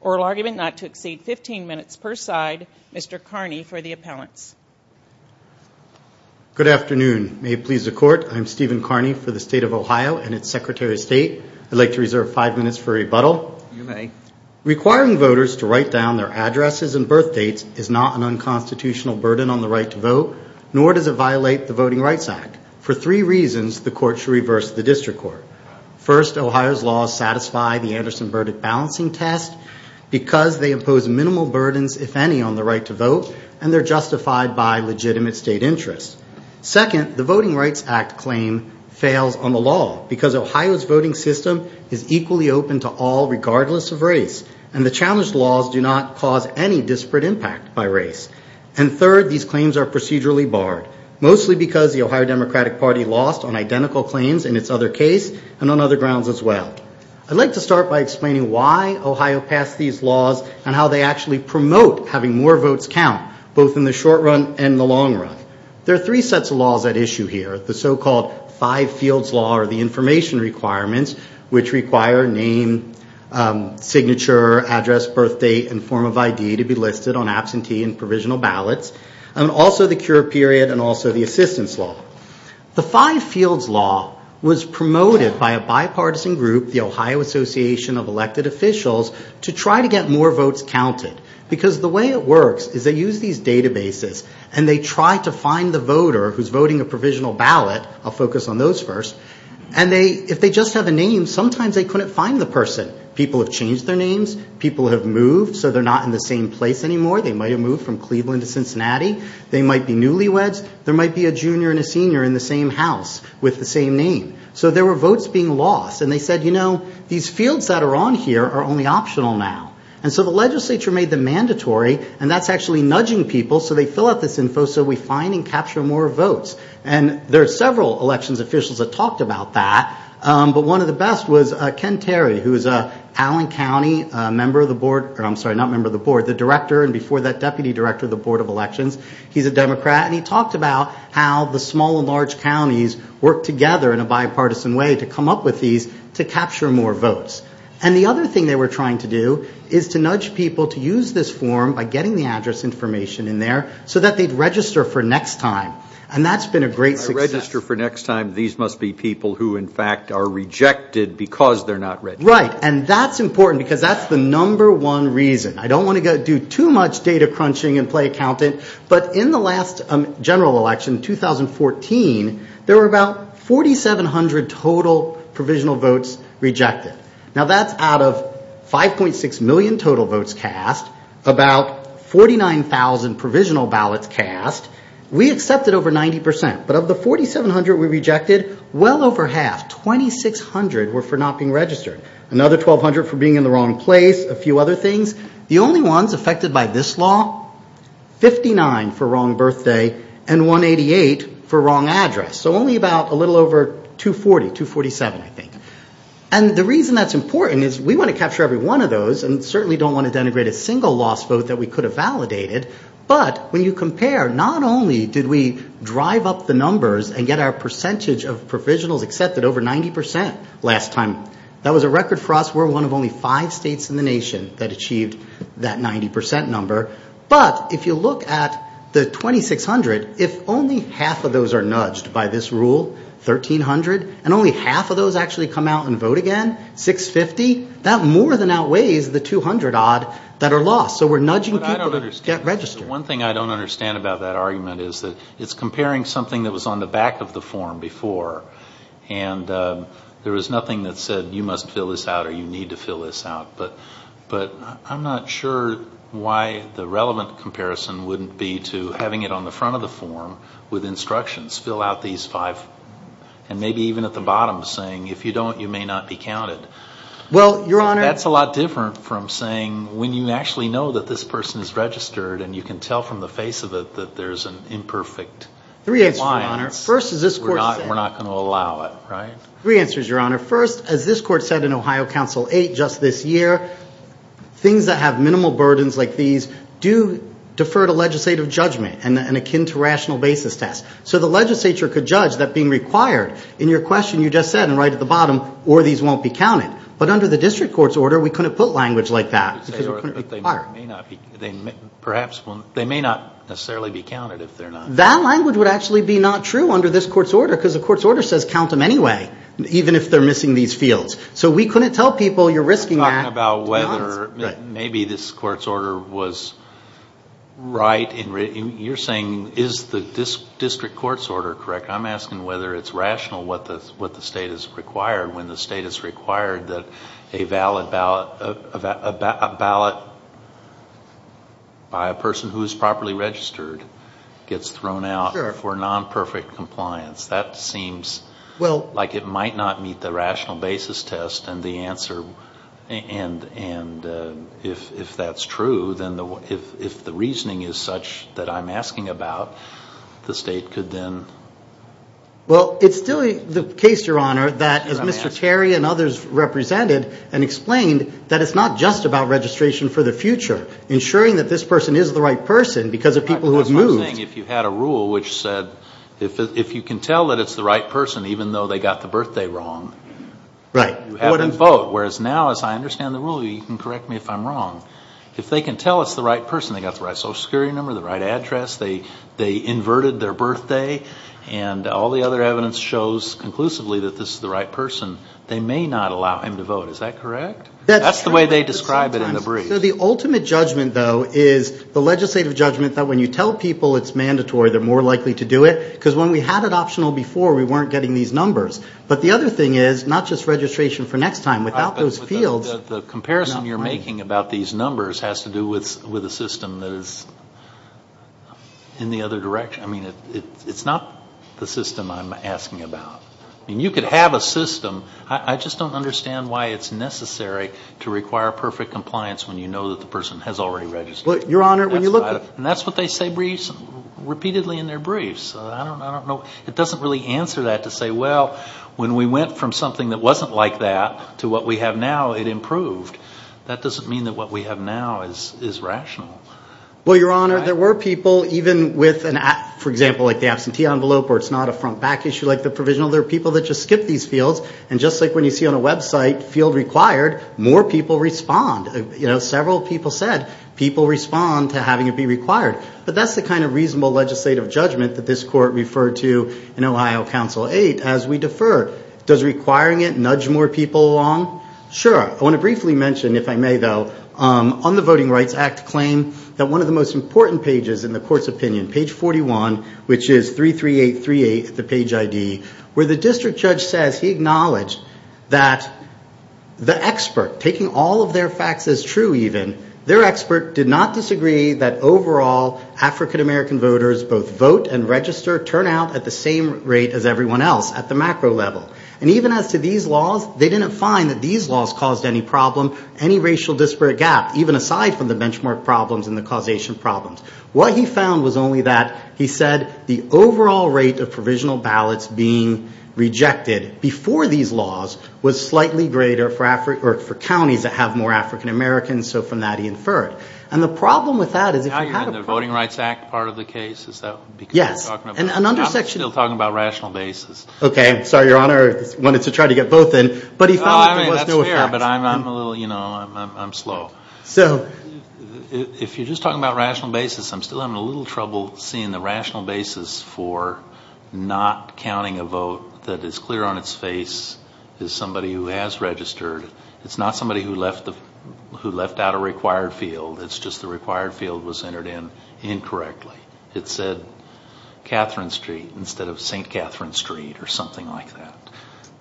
Oral argument not to exceed 15 minutes per side, Mr. Carney for the appellants. Good afternoon. May it please the Court, I'm Stephen Carney for the State of Ohio and its Secretary of State. I'd like to reserve five minutes for rebuttal. Requiring voters to write down their addresses and birthdates is not an unconstitutional burden on the right to vote, nor does it violate the Voting Rights Act. For three reasons, the Court should reverse the District Court. First, Ohio's laws satisfy the Anderson-Burdick balancing test because they impose minimal burdens if any on the right to vote, and they're justified by legitimate state interests. Second, the Voting Rights Act claim fails on the law because Ohio's voting system is equally open to all regardless of race, and the challenged laws do not cause any disparate impact by race. And third, these claims are procedurally barred, mostly because the Ohio Democratic Party lost on identical claims in its other case and on other grounds as well. I'd like to start by explaining why Ohio passed these laws and how they actually promote having more votes count, both in the short run and the long run. There are three sets of laws at issue here. The so-called five-fields law are the information requirements, which require name, signature, address, birthdate, and form of ID to be listed on absentee and provisional ballots, and also the cure period and also the assistance law. The five-fields law was promoted by a bipartisan group, the Ohio Association of Elected Officials, to try to get more votes counted, because the way it works is they use these databases and they try to find the voter who's voting a provisional ballot. I'll focus on those first. And if they just have a name, sometimes they couldn't find the person. People have changed their names. People have moved, so they're not in the same place anymore. They might have moved from Cleveland to Cincinnati. They might be newlyweds. There might be a junior and a senior in the same house with the same name. So there were votes being lost, and they said, you know, these fields that are on here are only optional now. And so the legislature made them mandatory, and that's actually nudging people so they fill out this info so we find and capture more votes. And there are several elections officials that talked about that, but one of the best was Ken Terry, who is an Allen County member of the board, or I'm sorry, not member of the board, the director and before that, deputy director of the Board of Elections. He's a Democrat, and he talked about how the small and large counties work together in a bipartisan way to come up with these to capture more votes. And the other thing they were trying to do is to nudge people to use this form by getting the address information in there so that they'd register for next time. And that's been a great success. If I register for next time, these must be people who in fact are rejected because they're not registered. Right. And that's important because that's the number one reason. I don't want to do too much data crunching and play accountant, but in the last general election, 2014, there were about 4,700 total provisional votes rejected. Now that's out of 5.6 million total votes cast, about 49,000 provisional ballots cast. We accepted over 90%, but of the 4,700 we rejected, well over half, 2,600 were for not being registered. Another 1,200 for being in the wrong place, a few other things. The only ones affected by this law, 59 for wrong birthday and 188 for wrong address. So only about a little over 240, 247 I think. And the reason that's important is we want to capture every one of those and certainly don't want to denigrate a single lost vote that we could have validated. But when you compare, not only did we drive up the numbers and get our percentage of provisionals accepted over 90% last time, that was a record for us. We're one of only five states in the nation that achieved that 90% number, but if you look at the 2,600, if only half of those are nudged by this rule, 1,300, and only half of those actually come out and vote again, 650, that more than outweighs the 200 odd that are lost. So we're nudging people to get registered. One thing I don't understand about that argument is that it's comparing something that was on the back of the form before and there was nothing that said you must fill this out or you need to fill this out. But I'm not sure why the relevant comparison wouldn't be to having it on the front of the form with instructions, fill out these five, and maybe even at the bottom saying if you don't, you may not be counted. That's a lot different from saying when you actually know that this person is registered and you can tell from the face of it that there's an imperfect alliance, we're not going to allow it. Right? Three answers, Your Honor. First, as this Court said in Ohio Council 8 just this year, things that have minimal burdens like these do defer to legislative judgment and akin to rational basis tests. So the legislature could judge that being required in your question you just said and right at the bottom, or these won't be counted. But under the district court's order, we couldn't put language like that because it wouldn't be required. They may not necessarily be counted if they're not. That language would actually be not true under this court's order because the court's order says count them anyway, even if they're missing these fields. So we couldn't tell people you're risking that. You're talking about whether maybe this court's order was right. You're saying is the district court's order correct? I'm asking whether it's rational what the state is required when the state is required that a valid ballot, a ballot by a person who is properly registered gets thrown out for non-perfect compliance. That seems like it might not meet the rational basis test and if that's true, then if the reasoning is such that I'm asking about, the state could then... Well it's still the case, Your Honor, that as Mr. Terry and others represented and explained that it's not just about registration for the future, ensuring that this person is the right person because of people who have moved. It's the same thing if you had a rule which said if you can tell that it's the right person even though they got the birthday wrong, you have to vote. Whereas now as I understand the rule, you can correct me if I'm wrong. If they can tell it's the right person, they got the right Social Security number, the right address, they inverted their birthday and all the other evidence shows conclusively that this is the right person, they may not allow him to vote. Is that correct? That's the way they describe it in the brief. The ultimate judgment though is the legislative judgment that when you tell people it's mandatory, they're more likely to do it because when we had it optional before, we weren't getting these numbers. But the other thing is, not just registration for next time, without those fields... The comparison you're making about these numbers has to do with a system that is in the other direction. I mean it's not the system I'm asking about. You could have a system, I just don't understand why it's necessary to require perfect compliance when you know that the person has already registered. That's what they say repeatedly in their briefs. It doesn't really answer that to say, well, when we went from something that wasn't like that to what we have now, it improved. That doesn't mean that what we have now is rational. Well, Your Honor, there were people even with an, for example, like the absentee envelope or it's not a front back issue like the provisional, there are people that just skip these fields and just like when you see on a website, field required, more people respond. Several people said people respond to having it be required. But that's the kind of reasonable legislative judgment that this court referred to in Ohio Council 8 as we defer. Does requiring it nudge more people along? Sure. I want to briefly mention, if I may though, on the Voting Rights Act claim that one of the most important pages in the court's opinion, page 41, which is 33838, the page ID, where the district judge says he acknowledged that the expert, taking all of their facts as true even, their expert did not disagree that overall African-American voters both vote and register turnout at the same rate as everyone else at the macro level. And even as to these laws, they didn't find that these laws caused any problem, any racial disparate gap, even aside from the benchmark problems and the causation problems. What he found was only that, he said, the overall rate of provisional ballots being rejected before these laws was slightly greater for counties that have more African-Americans, so from that he inferred. And the problem with that is if you had a- Now you're in the Voting Rights Act part of the case? Is that because you're talking about- Yes. And an under section- I'm still talking about rational basis. Okay. Sorry, Your Honor. I wanted to try to get both in. But he found that there was no effect. No, I mean, that's fair. But I'm a little, you know, I'm slow. So- If you're just talking about rational basis, I'm still having a little trouble seeing the rational basis for not counting a vote that is clear on its face as somebody who has registered. It's not somebody who left out a required field. It's just the required field was entered in incorrectly. It said Catherine Street instead of St. Catherine Street or something like that.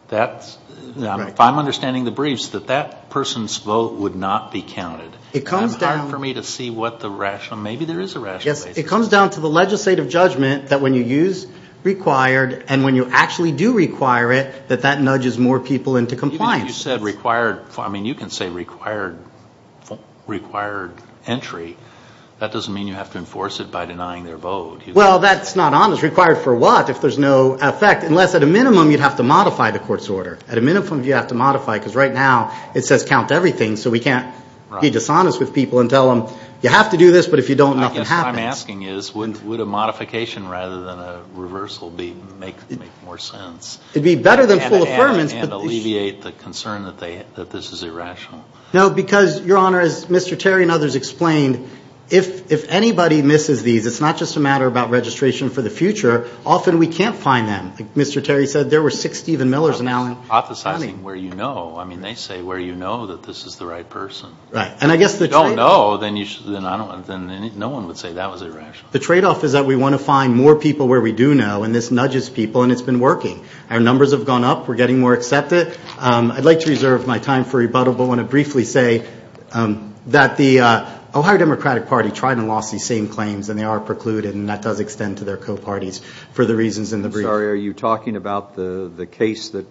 That's- Right. If I'm understanding the briefs, that that person's vote would not be counted. It comes down- It's hard for me to see what the rational, maybe there is a rational basis. It comes down to the legislative judgment that when you use required and when you actually do require it, that that nudges more people into compliance. Even if you said required, I mean, you can say required entry. That doesn't mean you have to enforce it by denying their vote. Well, that's not honest. Required for what? If there's no effect. Unless at a minimum, you'd have to modify the court's order. At a minimum, you'd have to modify, because right now, it says count everything, so we can't be dishonest with people and tell them, you have to do this, but if you don't, nothing happens. I guess what I'm asking is, would a modification rather than a reversal make more sense? It'd be better than full affirmance, but- And alleviate the concern that this is irrational. No, because, Your Honor, as Mr. Terry and others explained, if anybody misses these, it's not just a matter about registration for the future. Often we can't find them. Mr. Terry said there were six Stephen Millers in Allen County. I'm not hypothesizing where you know. I mean, they say where you know that this is the right person. Right. And I guess the trade- If you don't know, then no one would say that was irrational. The trade-off is that we want to find more people where we do know, and this nudges people, and it's been working. Our numbers have gone up. We're getting more accepted. I'd like to reserve my time for rebuttal, but want to briefly say that the Ohio Democratic Party tried and lost these same claims, and they are precluded, and that does extend to their co-parties for the reasons in the brief. I'm sorry. Are you talking about the case that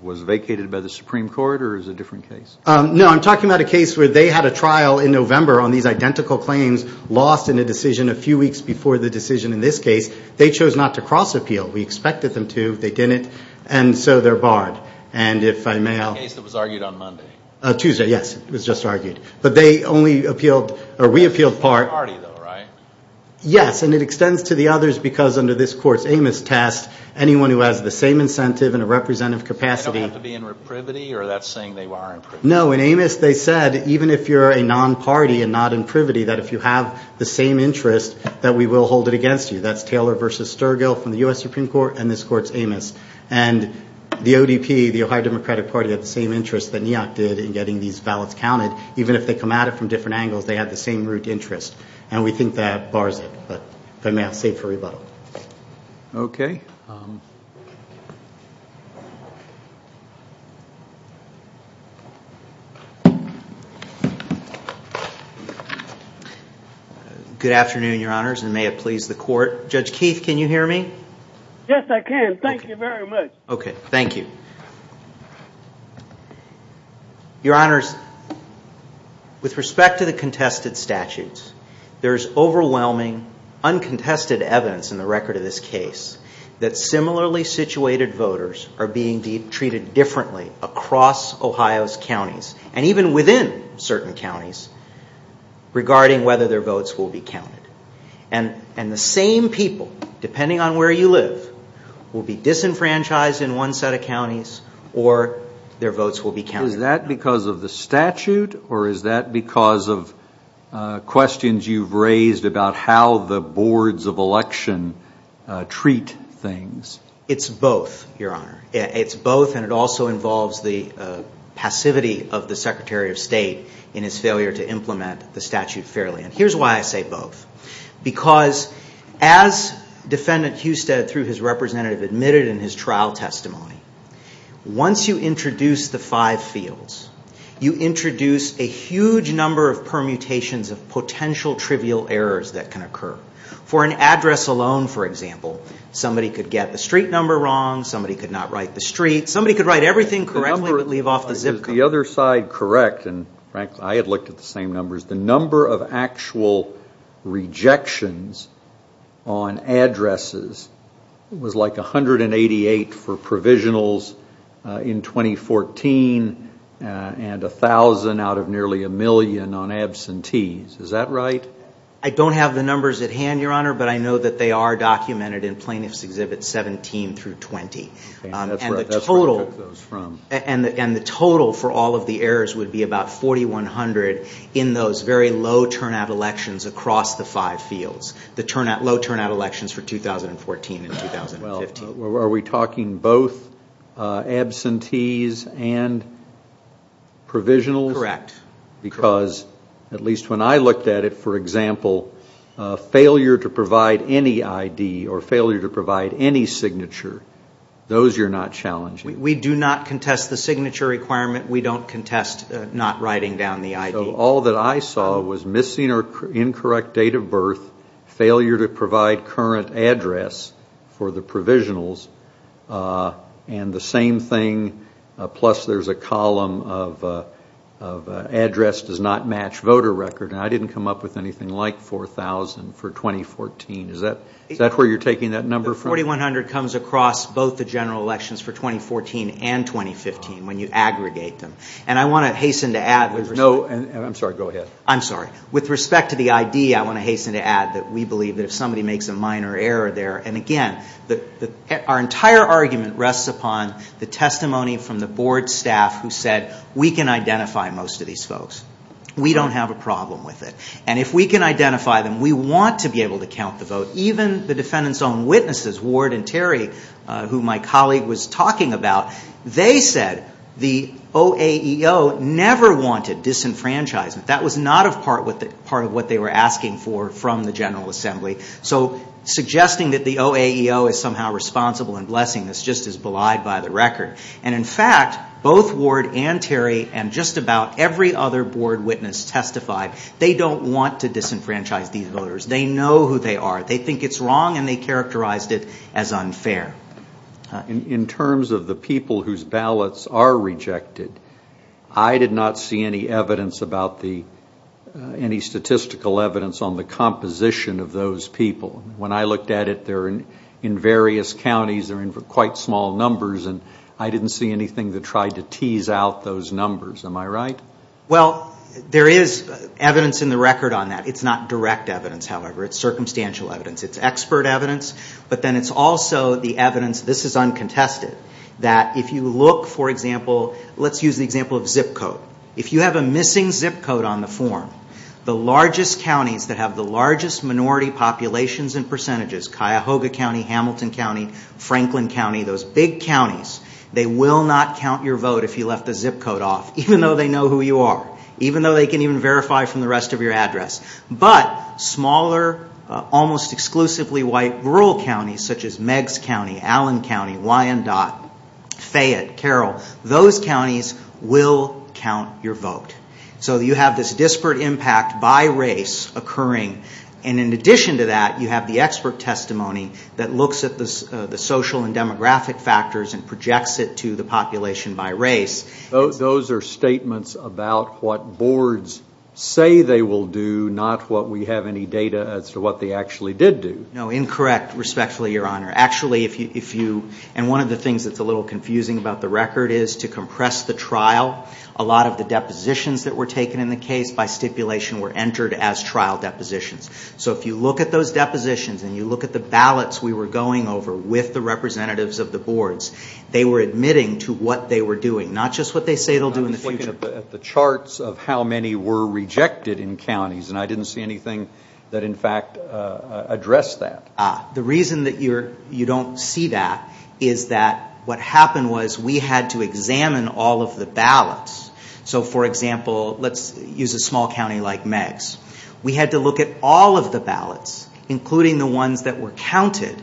was vacated by the Supreme Court, or is it a different case? No. I'm talking about a case where they had a trial in November on these identical claims lost in a decision a few weeks before the decision in this case. They chose not to cross-appeal. We expected them to. They didn't, and so they're barred. And if I may- The case that was argued on Monday. Tuesday. Yes. It was just argued. But they only appealed, or we appealed part- It's a party, though, right? Yes. And it extends to the others, because under this Court's Amos test, anyone who has the same incentive and a representative capacity- They don't have to be in reprivity, or that's saying they are in privity? No. In Amos, they said, even if you're a non-party and not in privity, that if you have the same interest, that we will hold it against you. That's Taylor v. Sturgill from the U.S. Supreme Court, and this Court's Amos. And the ODP, the Ohio Democratic Party, had the same interest that NEAC did in getting these ballots counted. Even if they come at it from different angles, they had the same root interest. And we think that bars it, but if I may, I'll save it for rebuttal. Okay. Good afternoon, Your Honors, and may it please the Court. Judge Keith, can you hear me? Yes, I can. Thank you very much. Okay. Thank you. Your Honors, with respect to the contested statutes, there is overwhelming, uncontested evidence in the record of this case that similarly situated voters are being treated differently across Ohio's counties, and even within certain counties, regarding whether their votes will be counted. And the same people, depending on where you live, will be disenfranchised in one set of counties, or their votes will be counted. Is that because of the statute, or is that because of questions you've raised about how the boards of election treat things? It's both, Your Honor. It's both, and it also involves the passivity of the Secretary of State in his failure to implement the statute fairly. And here's why I say both. Because as Defendant Husted, through his representative, admitted in his trial testimony, once you introduce the five fields, you introduce a huge number of permutations of potential trivial errors that can occur. For an address alone, for example, somebody could get the street number wrong, somebody could not write the street, somebody could write everything correctly, but leave off the zip code. Is the other side correct? And frankly, I had looked at the same numbers. The number of actual rejections on addresses was like 188 for provisionals in 2014, and 1,000 out of nearly a million on absentees. Is that right? I don't have the numbers at hand, Your Honor, but I know that they are documented in Plaintiffs' Exhibits 17 through 20. That's where I took those from. And the total for all of the errors would be about 4,100 in those very low turnout elections across the five fields. The low turnout elections for 2014 and 2015. Are we talking both absentees and provisionals? Correct. Because, at least when I looked at it, for example, failure to provide any ID or failure to provide any signature, those you're not challenging. We do not contest the signature requirement. We don't contest not writing down the ID. All that I saw was missing or incorrect date of birth, failure to provide current address for the provisionals, and the same thing, plus there's a column of address does not match voter record, and I didn't come up with anything like 4,000 for 2014. Is that where you're taking that number from? 4,100 comes across both the general elections for 2014 and 2015 when you aggregate them. And I want to hasten to add with respect to the ID, I want to hasten to add that we believe that if somebody makes a minor error there, and again, our entire argument rests upon the testimony from the board staff who said, we can identify most of these folks. We don't have a problem with it. And if we can identify them, we want to be able to count the vote. Even the defendant's own witnesses, Ward and Terry, who my colleague was talking about, they said the OAEO never wanted disenfranchisement. That was not a part of what they were asking for from the General Assembly. So suggesting that the OAEO is somehow responsible and blessing this just is belied by the record. And in fact, both Ward and Terry and just about every other board witness testified they don't want to disenfranchise these voters. They know who they are. They think it's wrong and they characterized it as unfair. In terms of the people whose ballots are rejected, I did not see any evidence about the, any statistical evidence on the composition of those people. When I looked at it, they're in various counties, they're in quite small numbers, and I didn't see anything that tried to tease out those numbers. Am I right? Well, there is evidence in the record on that. It's not direct evidence, however. It's circumstantial evidence, it's expert evidence, but then it's also the evidence, this is uncontested, that if you look, for example, let's use the example of zip code. If you have a missing zip code on the form, the largest counties that have the largest minority populations and percentages, Cuyahoga County, Hamilton County, Franklin County, those big counties, they will not count your vote if you left the zip code off, even though they know who you are, even though they can even verify from the rest of your address. But smaller, almost exclusively white rural counties, such as Meigs County, Allen County, Wyandotte, Fayette, Carroll, those counties will count your vote. So you have this disparate impact by race occurring, and in addition to that, you have the expert testimony that looks at the social and demographic factors and projects it to the population by race. Those are statements about what boards say they will do, not what we have any data as to what they actually did do. No, incorrect, respectfully, Your Honor. Actually, if you, and one of the things that's a little confusing about the record is to compress the trial, a lot of the depositions that were taken in the case by stipulation were entered as trial depositions. So if you look at those depositions and you look at the ballots we were going over with the representatives of the boards, they were admitting to what they were doing, not just what they say they'll do in the future. I'm looking at the charts of how many were rejected in counties, and I didn't see anything that in fact addressed that. The reason that you don't see that is that what happened was we had to examine all of the ballots. So for example, let's use a small county like Meigs. We had to look at all of the ballots, including the ones that were counted,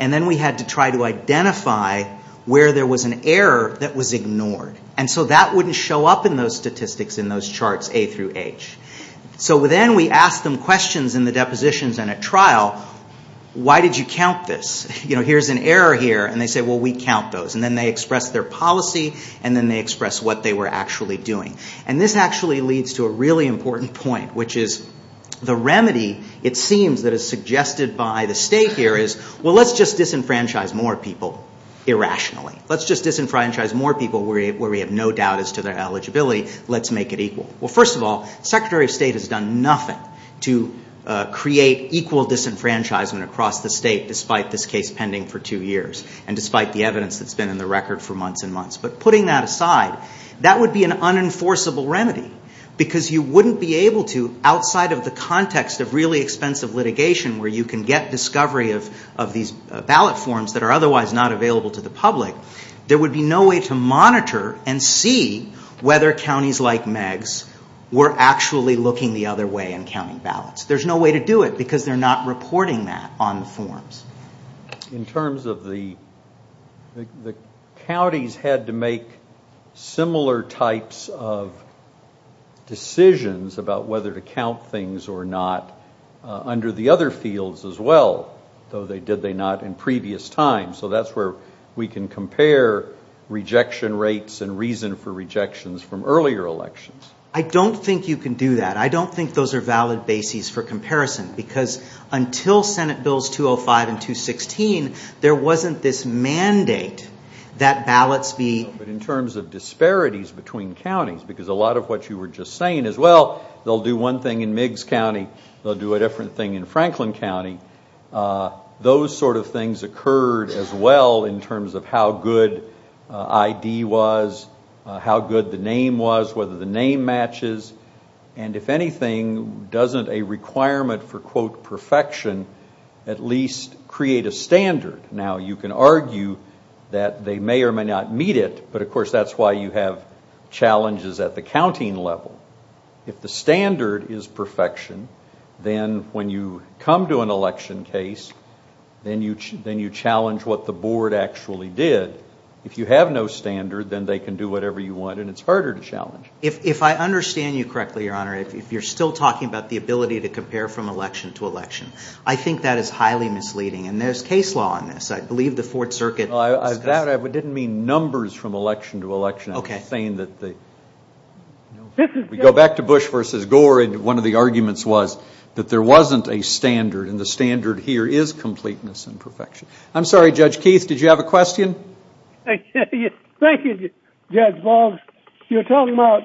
and then we had to try to identify where there was an error that was ignored. And so that wouldn't show up in those statistics in those charts, A through H. So then we asked them questions in the depositions in a trial. Why did you count this? You know, here's an error here, and they say, well, we count those. And then they express their policy, and then they express what they were actually doing. And this actually leads to a really important point, which is the remedy, it seems, that is suggested by the state here is, well, let's just disenfranchise more people irrationally. Let's just disenfranchise more people where we have no doubt as to their eligibility. Let's make it equal. Well, first of all, the Secretary of State has done nothing to create equal disenfranchisement across the state, despite this case pending for two years, and despite the evidence that's been in the record for months and months. But putting that aside, that would be an unenforceable remedy, because you wouldn't be able to, outside of the context of really expensive litigation where you can get discovery of these ballot forms that are otherwise not available to the public, there would be no way to monitor and see whether counties like Meigs were actually looking the other way and counting ballots. There's no way to do it, because they're not reporting that on the forms. In terms of the, the counties had to make similar types of decisions about whether to count things or not under the other fields as well, though they did they not in previous times. So that's where we can compare rejection rates and reason for rejections from earlier elections. I don't think you can do that. I don't think those are valid bases for comparison, because until Senate Bills 205 and 216, there wasn't this mandate that ballots be... In terms of disparities between counties, because a lot of what you were just saying is well, they'll do one thing in Meigs County, they'll do a different thing in Franklin County. Those sort of things occurred as well in terms of how good ID was, how good the name was, whether the name matches, and if anything, doesn't a requirement for quote perfection at least create a standard? Now you can argue that they may or may not meet it, but of course that's why you have challenges at the counting level. If the standard is perfection, then when you come to an election case, then you challenge what the board actually did. If you have no standard, then they can do whatever you want, and it's harder to challenge. If I understand you correctly, Your Honor, if you're still talking about the ability to compare from election to election, I think that is highly misleading, and there's case law on this. I believe the Fourth Circuit... I doubt it. I didn't mean numbers from election to election. Okay. I was saying that the... We go back to Bush versus Gore, and one of the arguments was that there wasn't a standard, and the standard here is completeness and perfection. I'm sorry, Judge Keith. Did you have a question? Yes. Thank you, Judge Boggs. You're talking about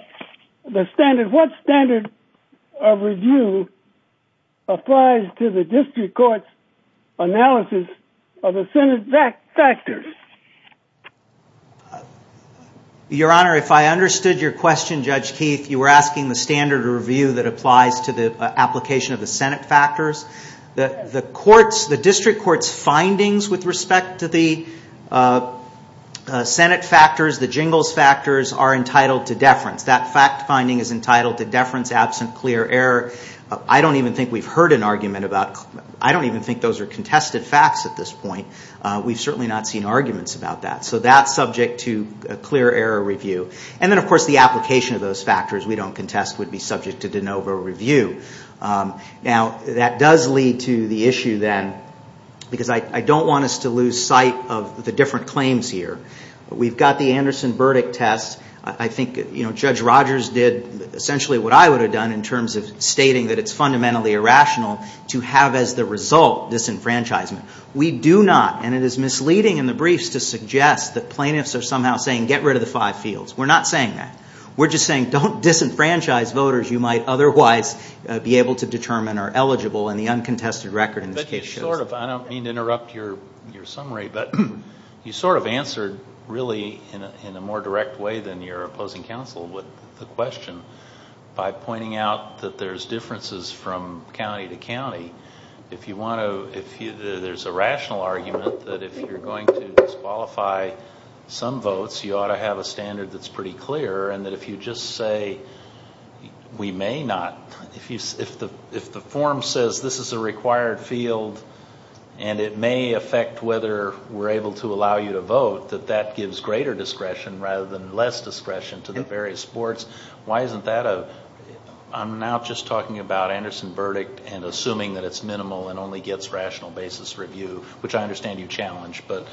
the standard. What standard of review applies to the district court's analysis of the Senate factors? Your Honor, if I understood your question, Judge Keith, you were asking the standard of review that applies to the application of the Senate factors. The district court's findings with respect to the Senate factors, the jingles factors, are entitled to deference. That fact finding is entitled to deference, absent clear error. I don't even think we've heard an argument about... I don't even think those are contested facts at this point. We've certainly not seen arguments about that, so that's subject to a clear error review. Then, of course, the application of those factors we don't contest would be subject to de novo review. Now, that does lead to the issue then, because I don't want us to lose sight of the different claims here. We've got the Anderson verdict test. I think Judge Rogers did essentially what I would have done in terms of stating that it's fundamentally irrational to have as the result disenfranchisement. We do not, and it is misleading in the briefs to suggest that plaintiffs are somehow saying, get rid of the five fields. We're not saying that. We're just saying, don't disenfranchise voters you might otherwise be able to determine are eligible, and the uncontested record in this case shows. I don't mean to interrupt your summary, but you sort of answered really in a more direct way than your opposing counsel with the question by pointing out that there's differences from county to county. There's a rational argument that if you're going to disqualify some votes, you ought to have a standard that's pretty clear, and that if you just say, we may not, if the form says this is a required field and it may affect whether we're able to allow you to vote, that that gives greater discretion rather than less discretion to the various sports. Why isn't that a... I'm now just talking about Anderson verdict and assuming that it's minimal and only gets rational basis review, which I understand you challenge, but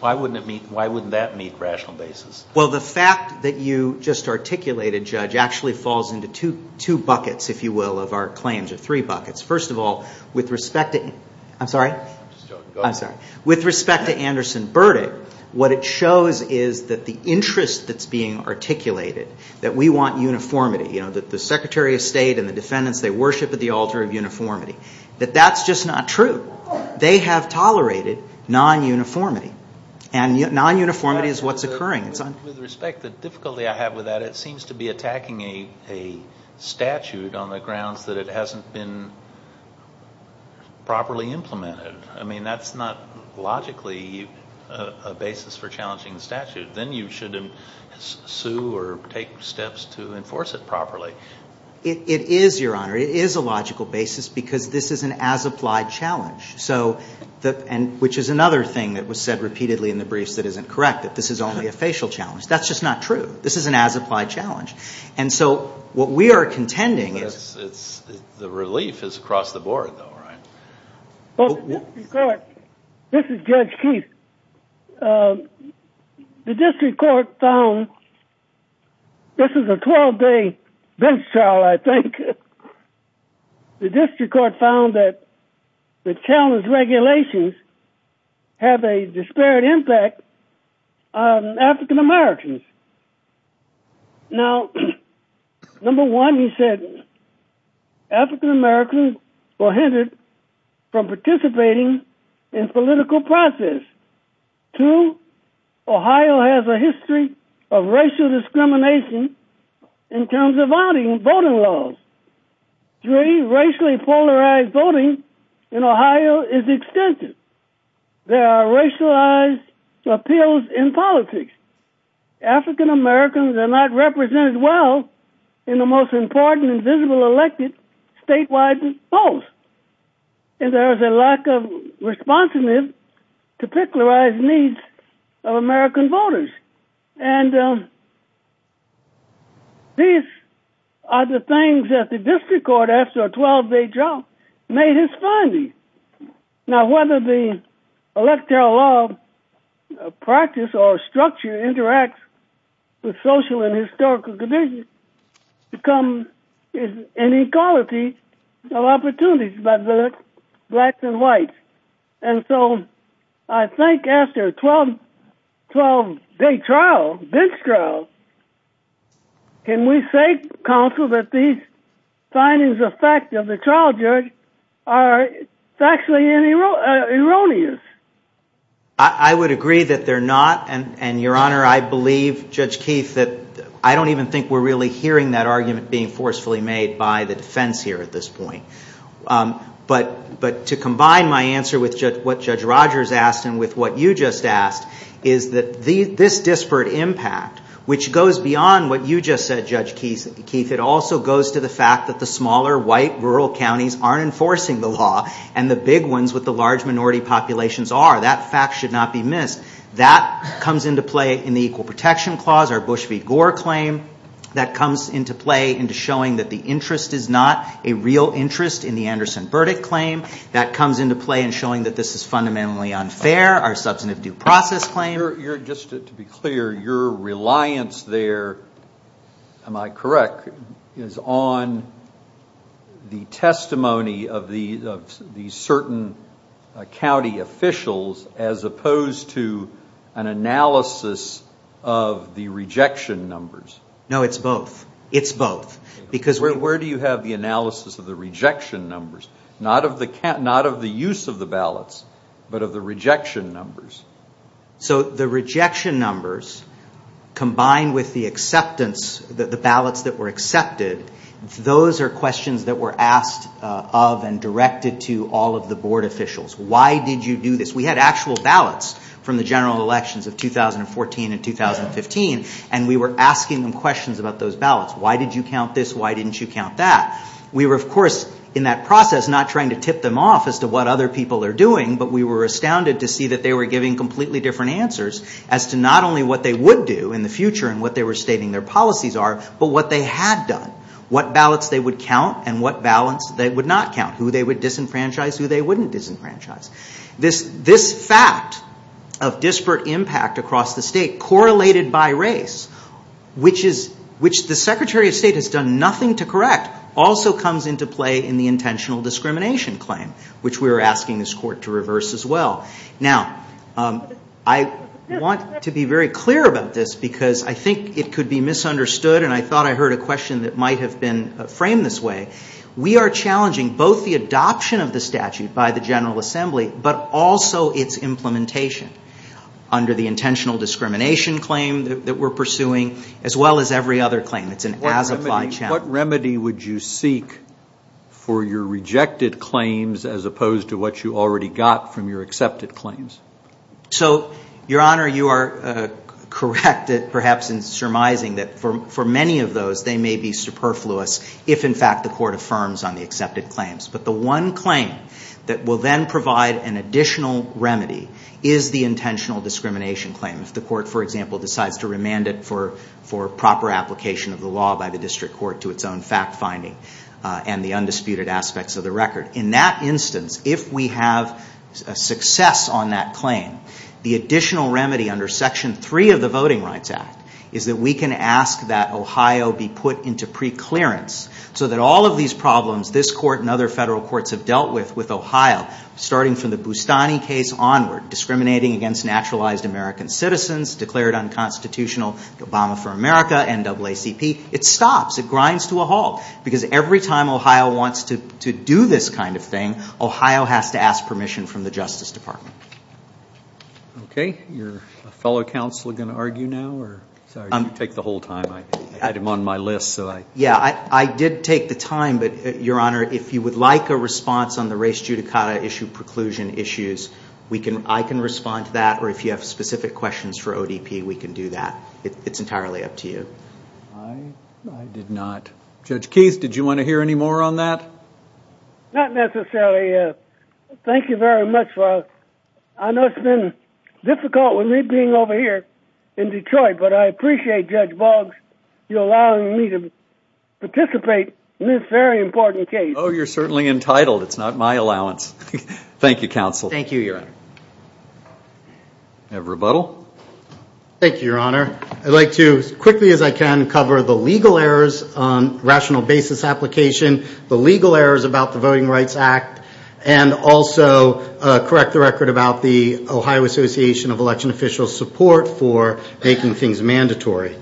why wouldn't that meet rational basis? Well, the fact that you just articulated, Judge, actually falls into two buckets, if you will, of our claims, or three buckets. First of all, with respect to... I'm sorry? I'm just joking. Go ahead. I'm sorry. With respect to Anderson verdict, what it shows is that the interest that's being articulated, that we want uniformity, that the Secretary of State and the defendants, they worship at the altar of uniformity, that that's just not true. They have tolerated non-uniformity, and non-uniformity is what's occurring. With respect, the difficulty I have with that, it seems to be attacking a statute on the grounds that it hasn't been properly implemented. I mean, that's not logically a basis for challenging the statute. Then you shouldn't sue or take steps to enforce it properly. It is, Your Honor, it is a logical basis, because this is an as-applied challenge, which is another thing that was said repeatedly in the briefs that isn't correct, that this is only a facial challenge. That's just not true. This is an as-applied challenge. What we are contending is... The relief is across the board, though, right? Well, the district court... This is Judge Keith. The district court found... This is a 12-day bench trial, I think. The district court found that the challenge regulations have a disparate impact on African-Americans. Now, number one, he said, African-Americans were hindered from participating in political process. Two, Ohio has a history of racial discrimination in terms of voting laws. Three, racially polarized voting in Ohio is extensive. There are racialized appeals in politics. African-Americans are not represented well in the most important and visible elected statewide polls. And there is a lack of responsiveness to particularized needs of American voters. And these are the things that the district court, after a 12-day trial, made his finding. Now, whether the electoral law practice or structure interacts with social and historical conditions becomes an inequality of opportunities by the blacks and whites. And so, I think after a 12-day trial, bench trial, can we say, counsel, that these findings of fact of the trial judge are factually erroneous? I would agree that they're not. And Your Honor, I believe, Judge Keith, that I don't even think we're really hearing that argument being forcefully made by the defense here at this point. But to combine my answer with what Judge Rogers asked and with what you just asked, is that this disparate impact, which goes beyond what you just said, Judge Keith, it also goes to the fact that the smaller, white, rural counties aren't enforcing the law and the big ones with the large minority populations are. That fact should not be missed. That comes into play in the Equal Protection Clause, our Bush v. Gore claim. That comes into play into showing that the interest is not a real interest in the Anderson Burdick claim. That comes into play in showing that this is fundamentally unfair, our substantive due process claim. Your Honor, just to be clear, your reliance there, am I correct, is on the testimony of the certain county officials as opposed to an analysis of the rejection numbers? No, it's both. It's both. Because where do you have the analysis of the rejection numbers? Not of the use of the ballots, but of the rejection numbers. So the rejection numbers, combined with the ballots that were accepted, those are questions that were asked of and directed to all of the board officials. Why did you do this? We had actual ballots from the general elections of 2014 and 2015, and we were asking them questions about those ballots. Why did you count this? Why didn't you count that? We were, of course, in that process, not trying to tip them off as to what other people are getting completely different answers as to not only what they would do in the future and what they were stating their policies are, but what they had done. What ballots they would count and what ballots they would not count. Who they would disenfranchise, who they wouldn't disenfranchise. This fact of disparate impact across the state, correlated by race, which the Secretary of State has done nothing to correct, also comes into play in the intentional discrimination claim, which we were asking this court to reverse as well. Now, I want to be very clear about this because I think it could be misunderstood, and I thought I heard a question that might have been framed this way. We are challenging both the adoption of the statute by the General Assembly, but also its implementation under the intentional discrimination claim that we're pursuing, as well as every other claim. It's an as-applied challenge. What remedy would you seek for your rejected claims as opposed to what you already got from your accepted claims? So Your Honor, you are correct, perhaps, in surmising that for many of those, they may be superfluous if, in fact, the court affirms on the accepted claims. But the one claim that will then provide an additional remedy is the intentional discrimination claim. If the court, for example, decides to remand it for proper application of the law by the district court to its own fact-finding and the undisputed aspects of the record. In that instance, if we have a success on that claim, the additional remedy under Section 3 of the Voting Rights Act is that we can ask that Ohio be put into preclearance so that all of these problems this court and other federal courts have dealt with with Ohio, starting from the Boustany case onward, discriminating against naturalized American citizens, declared unconstitutional, Obama for America, NAACP, it stops, it grinds to kind of thing. Ohio has to ask permission from the Justice Department. Okay. Are your fellow counselors going to argue now? Sorry. You take the whole time. I had him on my list, so I... Yeah. I did take the time, but Your Honor, if you would like a response on the race judicata issue preclusion issues, I can respond to that, or if you have specific questions for ODP, we can do that. It's entirely up to you. I did not. Judge Keyes, did you want to hear any more on that? Not necessarily, yes. Thank you very much. I know it's been difficult with me being over here in Detroit, but I appreciate Judge Boggs allowing me to participate in this very important case. Oh, you're certainly entitled. It's not my allowance. Thank you, counsel. Thank you, Your Honor. Do you have a rebuttal? Thank you, Your Honor. I'd like to, as quickly as I can, cover the legal errors on rational basis application, the legal errors about the Voting Rights Act, and also correct the record about the Ohio Association of Election Officials' support for making things mandatory.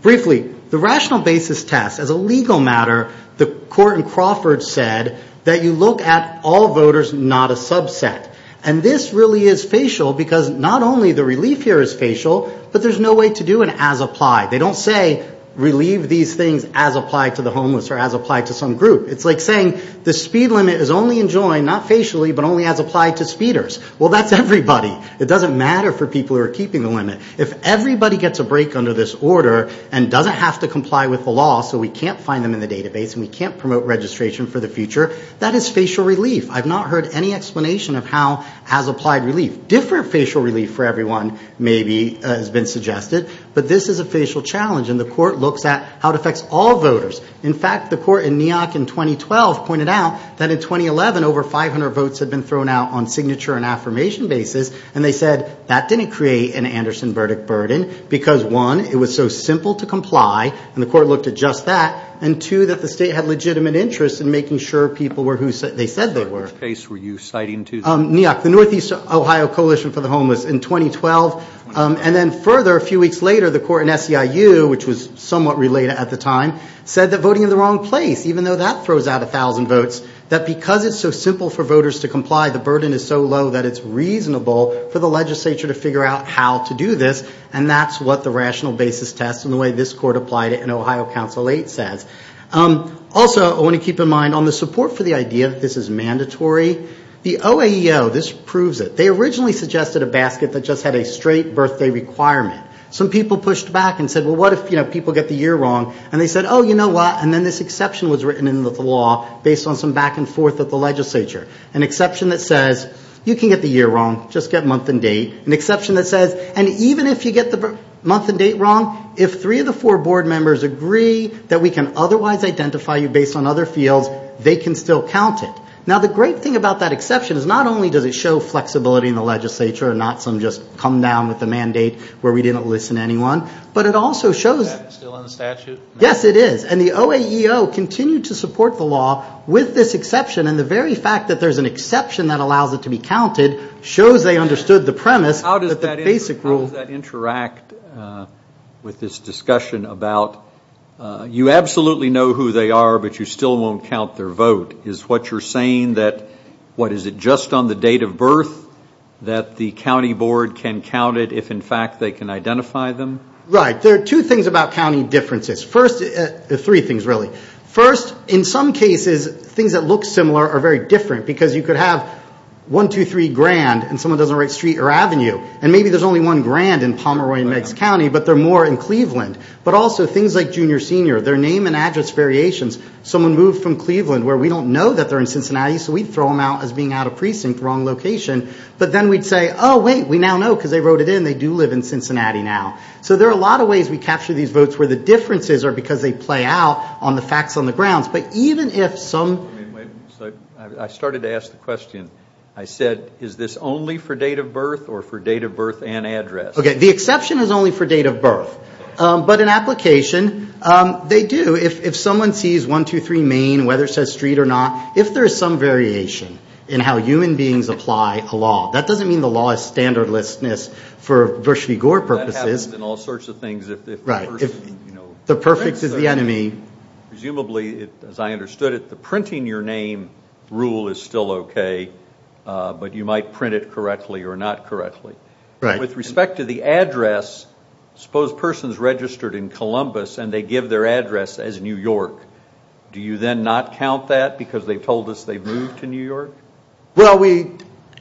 Briefly, the rational basis test, as a legal matter, the court in Crawford said that you look at all voters, not a subset. And this really is facial, because not only the relief here is facial, but there's no way to do an as-applied. They don't say, relieve these things as-applied to the homeless or as-applied to some group. It's like saying, the speed limit is only enjoined, not facially, but only as-applied to speeders. Well, that's everybody. It doesn't matter for people who are keeping the limit. If everybody gets a break under this order and doesn't have to comply with the law so we can't find them in the database and we can't promote registration for the future, that is facial relief. I've not heard any explanation of how as-applied relief. Different facial relief for everyone, maybe, has been suggested. But this is a facial challenge, and the court looks at how it affects all voters. In fact, the court in New York in 2012 pointed out that in 2011, over 500 votes had been thrown out on signature and affirmation basis, and they said that didn't create an Anderson verdict burden, because one, it was so simple to comply, and the court looked at just that, and two, that the state had legitimate interest in making sure people were who they said they were. Which case were you citing to? New York. The Northeast Ohio Coalition for the Homeless in 2012, and then further, a few weeks later, the court in SEIU, which was somewhat related at the time, said that voting in the wrong place, even though that throws out 1,000 votes, that because it's so simple for voters to comply, the burden is so low that it's reasonable for the legislature to figure out how to do this, and that's what the rational basis test and the way this court applied it in Ohio Council 8 says. Also, I want to keep in mind, on the support for the idea that this is mandatory, the OAE O, this proves it. They originally suggested a basket that just had a straight birthday requirement. Some people pushed back and said, well, what if, you know, people get the year wrong, and they said, oh, you know what, and then this exception was written into the law based on some back and forth with the legislature, an exception that says, you can get the year wrong, just get month and date, an exception that says, and even if you get the month and date wrong, if three of the four board members agree that we can otherwise identify you based on other fields, they can still count it. Now, the great thing about that exception is not only does it show flexibility in the legislature and not some just come down with a mandate where we didn't listen to anyone, but it also shows... Is that still in the statute? Yes, it is. And the OAEO continued to support the law with this exception, and the very fact that there's an exception that allows it to be counted shows they understood the premise that the basic rule... How does that interact with this discussion about, you absolutely know who they are, but you still won't count their vote? Is what you're saying that, what, is it just on the date of birth that the county board can count it if, in fact, they can identify them? Right. There are two things about county differences. First... Three things, really. First, in some cases, things that look similar are very different, because you could have one, two, three grand, and someone doesn't write street or avenue, and maybe there's only one grand in Pomeroy and Meigs County, but they're more in Cleveland. But also, things like junior, senior, their name and address variations. Someone moved from Cleveland, where we don't know that they're in Cincinnati, so we'd throw them out as being out of precinct, wrong location. But then we'd say, oh, wait, we now know, because they wrote it in, they do live in Cincinnati now. So there are a lot of ways we capture these votes where the differences are because they play out on the facts on the grounds. But even if some... Wait, wait. So I started to ask the question, I said, is this only for date of birth, or for date of birth and address? Okay. The exception is only for date of birth. But in application, they do. If someone sees one, two, three, main, whether it says street or not, if there's some variation in how human beings apply a law, that doesn't mean the law is standardlessness for Bush v. Gore purposes. That happens in all sorts of things if the person, you know... The perfect is the enemy. Presumably, as I understood it, the printing your name rule is still okay, but you might print it correctly or not correctly. Right. With respect to the address, suppose a person's registered in Columbus and they give their address as New York. Do you then not count that because they've told us they've moved to New York? Well, we...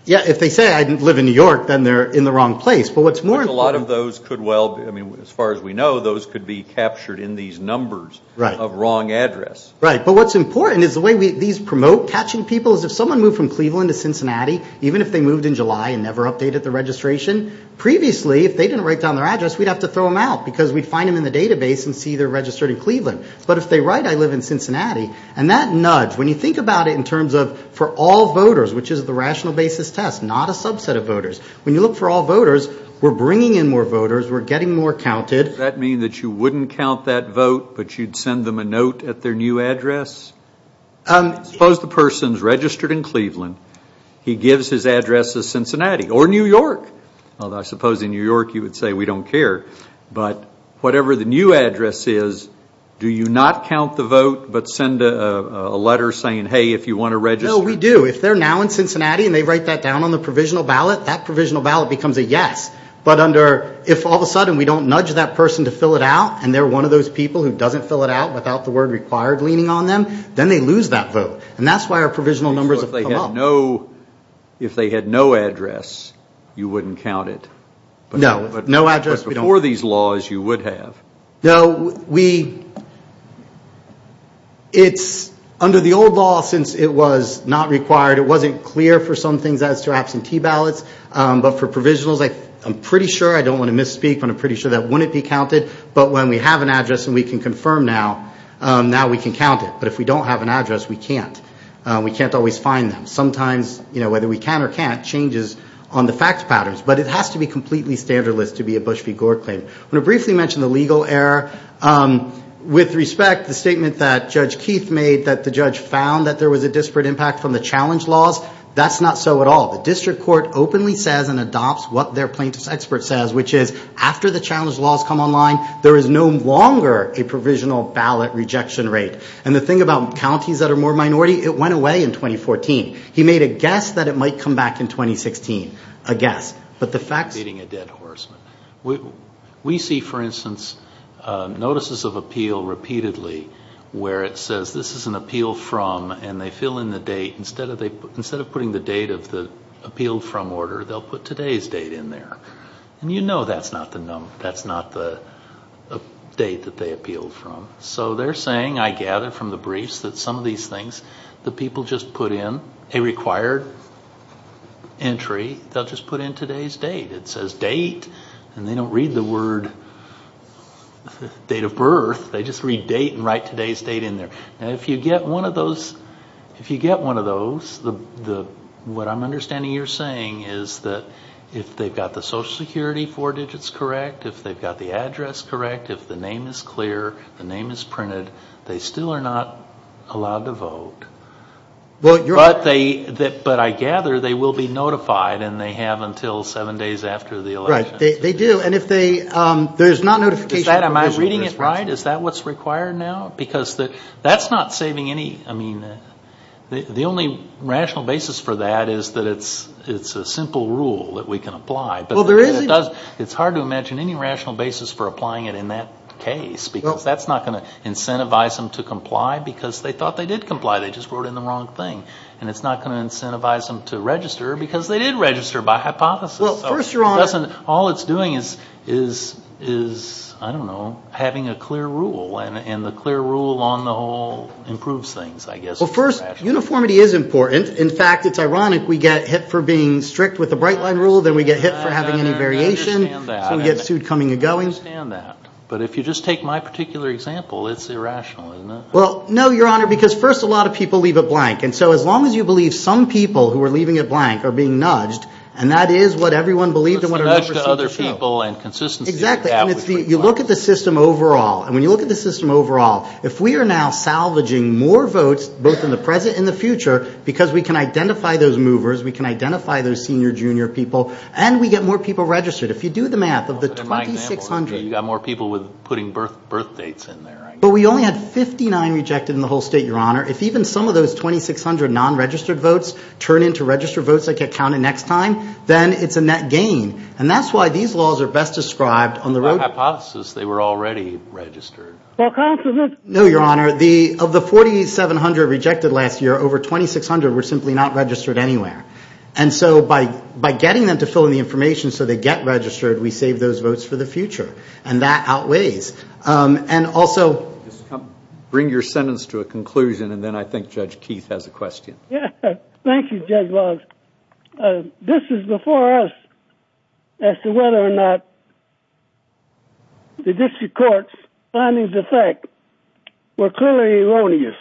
Yeah, if they say, I live in New York, then they're in the wrong place. But what's more... But a lot of those could well... I mean, as far as we know, those could be captured in these numbers of wrong address. But what's important is the way these promote catching people is if someone moved from Cleveland to Cincinnati, even if they moved in July and never updated the registration, previously, if they didn't write down their address, we'd have to throw them out because we'd find them in the database and see they're registered in Cleveland. But if they write, I live in Cincinnati, and that nudge, when you think about it in terms of for all voters, which is the rational basis test, not a subset of voters, when you look for all voters, we're bringing in more voters, we're getting more counted. That mean that you wouldn't count that vote, but you'd send them a note at their new address? Suppose the person's registered in Cleveland, he gives his address as Cincinnati, or New York. Although I suppose in New York you would say, we don't care. But whatever the new address is, do you not count the vote but send a letter saying, hey, if you want to register? No, we do. If they're now in Cincinnati and they write that down on the provisional ballot, that provisional ballot becomes a yes. But under... If all of a sudden we don't nudge that person to fill it out, and they're one of those people who doesn't fill it out without the word required leaning on them, then they lose that vote. And that's why our provisional numbers have come up. If they had no address, you wouldn't count it? No. No address, we don't. Before these laws, you would have. No, we... It's under the old law, since it was not required, it wasn't clear for some things as to absentee ballots, but for provisionals, I'm pretty sure, I don't want to misspeak, but I'm pretty sure if we have an address and we can confirm now, now we can count it. But if we don't have an address, we can't. We can't always find them. Sometimes, you know, whether we can or can't, changes on the fact patterns. But it has to be completely standardless to be a Bush v. Gore claim. I'm going to briefly mention the legal error. With respect, the statement that Judge Keith made that the judge found that there was a disparate impact from the challenge laws, that's not so at all. The district court openly says and adopts what their plaintiff's expert says, which is, after the challenge laws come online, there is no longer a provisional ballot rejection rate. And the thing about counties that are more minority, it went away in 2014. He made a guess that it might come back in 2016, a guess. But the facts... I'm beating a dead horse. We see, for instance, notices of appeal repeatedly where it says, this is an appeal from, and they fill in the date. Instead of putting the date of the appeal from order, they'll put today's date in there. And you know that's not the date that they appealed from. So they're saying, I gather from the briefs, that some of these things, the people just put in a required entry, they'll just put in today's date. It says date, and they don't read the word date of birth, they just read date and write today's date in there. If you get one of those, what I'm understanding you're saying is that if they've got the Social Security four digits correct, if they've got the address correct, if the name is clear, the name is printed, they still are not allowed to vote. But I gather they will be notified, and they have until seven days after the election. Right. They do. And if they... There's not notification... Is that... Am I reading it right? Is that what's required now? Because that's not saving any... I mean, the only rational basis for that is that it's a simple rule that we can apply. It's hard to imagine any rational basis for applying it in that case, because that's not going to incentivize them to comply, because they thought they did comply, they just wrote in the wrong thing. And it's not going to incentivize them to register, because they did register by hypothesis. All it's doing is, I don't know, having a clear rule, and the clear rule on the whole improves things, I guess. Well, first, uniformity is important. In fact, it's ironic, we get hit for being strict with the Bright Line Rule, then we get hit for having any variation, so we get sued coming and going. I understand that. But if you just take my particular example, it's irrational, isn't it? Well, no, Your Honor, because first, a lot of people leave it blank. And so as long as you believe some people who are leaving it blank are being nudged, and that is what everyone believed in what a number of senior people... It's the nudge to other people and consistency... Exactly. And it's the... You look at the system overall. And when you look at the system overall, if we are now salvaging more votes, both in the present and the future, because we can identify those movers, we can identify those senior or junior people, and we get more people registered. If you do the math, of the 2,600... So in my example, you've got more people with putting birth dates in there, I guess. But we only had 59 rejected in the whole state, Your Honor. If even some of those 2,600 non-registered votes turn into registered votes that get counted next time, then it's a net gain. And that's why these laws are best described on the road... By hypothesis, they were already registered. Well, councilman... No, Your Honor, of the 4,700 rejected last year, over 2,600 were simply not registered anywhere. And so by getting them to fill in the information so they get registered, we save those votes for the future. And that outweighs. And also... Just come... Bring your sentence to a conclusion, and then I think Judge Keith has a question. Yeah. Thank you, Judge Boggs. This is before us as to whether or not the district court's findings of fact were clearly erroneous.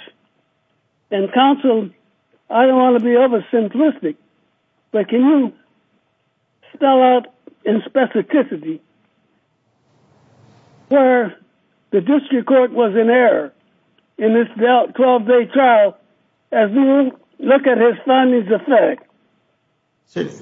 And, counsel, I don't want to be over-simplistic, but can you spell out in specificity where the district court was in error in this 12-day trial as we look at his findings of fact?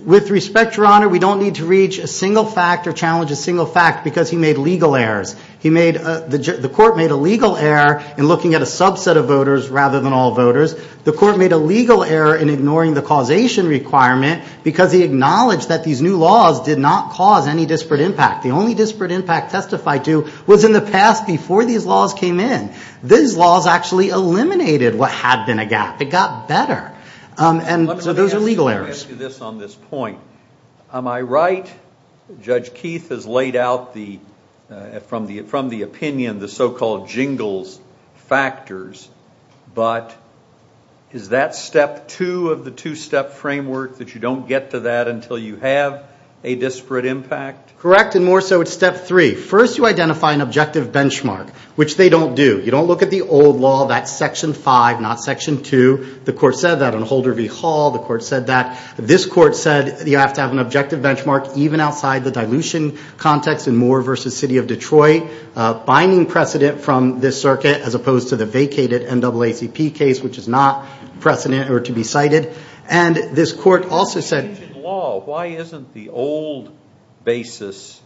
With respect, Your Honor, we don't need to reach a single fact or challenge a single fact because he made legal errors. He made... The court made a legal error in looking at a subset of voters rather than all voters. The court made a legal error in ignoring the causation requirement because he acknowledged that these new laws did not cause any disparate impact. The only disparate impact testified to was in the past before these laws came in. These laws actually eliminated what had been a gap. It got better. And so those are legal errors. Let me ask you this on this point. Am I right? Judge Keith has laid out from the opinion the so-called jingles factors, but is that step two of the two-step framework that you don't get to that until you have a disparate impact? Correct. And more so it's step three. First, you identify an objective benchmark, which they don't do. You don't look at the old law, that's section five, not section two. The court said that on Holder v. Hall. The court said that. This court said you have to have an objective benchmark even outside the dilution context in Moore v. City of Detroit, binding precedent from this circuit as opposed to the vacated NAACP case, which is not precedent or to be cited. And this court also said- In the law, why isn't the old basis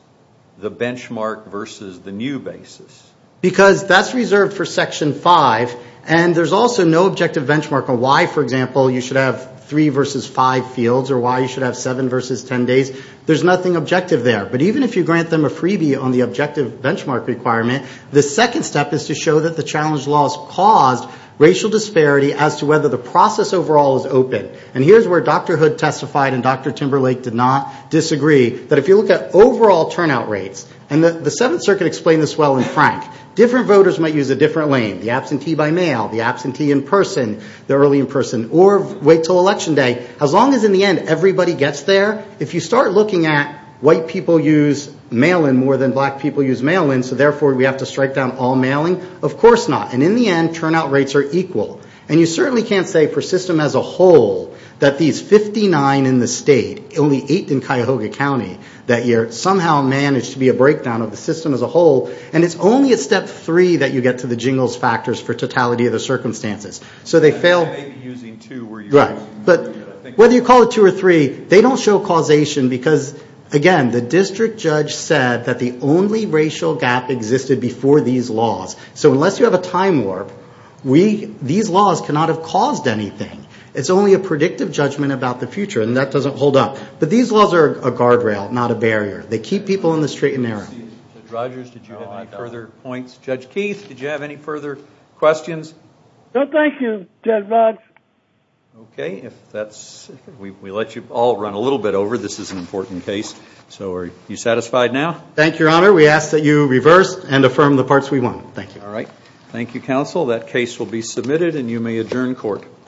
the benchmark versus the new basis? Because that's reserved for section five. And there's also no objective benchmark on why, for example, you should have three versus five fields or why you should have seven versus 10 days. There's nothing objective there. But even if you grant them a freebie on the objective benchmark requirement, the second step is to show that the challenge laws caused racial disparity as to whether the process overall is open. And here's where Dr. Hood testified and Dr. Timberlake did not disagree, that if you look at overall turnout rates, and the Seventh Circuit explained this well in Frank, different voters might use a different lane, the absentee by mail, the absentee in person, the early in person, or wait till election day. As long as in the end, everybody gets there. If you start looking at white people use mail-in more than black people use mail-in, so therefore we have to strike down all mailing. Of course not. And in the end, turnout rates are equal. And you certainly can't say for system as a whole that these 59 in the state, only eight in Cuyahoga County that year, somehow managed to be a breakdown of the system as a whole. And it's only at step three that you get to the jingles factors for totality of the circumstances. So they fail. They may be using two where you're going. Right. But whether you call it two or three, they don't show causation because, again, the district judge said that the only racial gap existed before these laws. So unless you have a time warp, these laws cannot have caused anything. It's only a predictive judgment about the future, and that doesn't hold up. But these laws are a guardrail, not a barrier. They keep people in the straight and narrow. Judge Rogers, did you have any further points? Judge Keith, did you have any further questions? No, thank you, Judge Rogers. Okay. If that's... We let you all run a little bit over. This is an important case. So are you satisfied now? Thank you, Your Honor. We ask that you reverse and affirm the parts we want. Thank you. All right. Thank you, counsel. That case will be submitted, and you may adjourn court.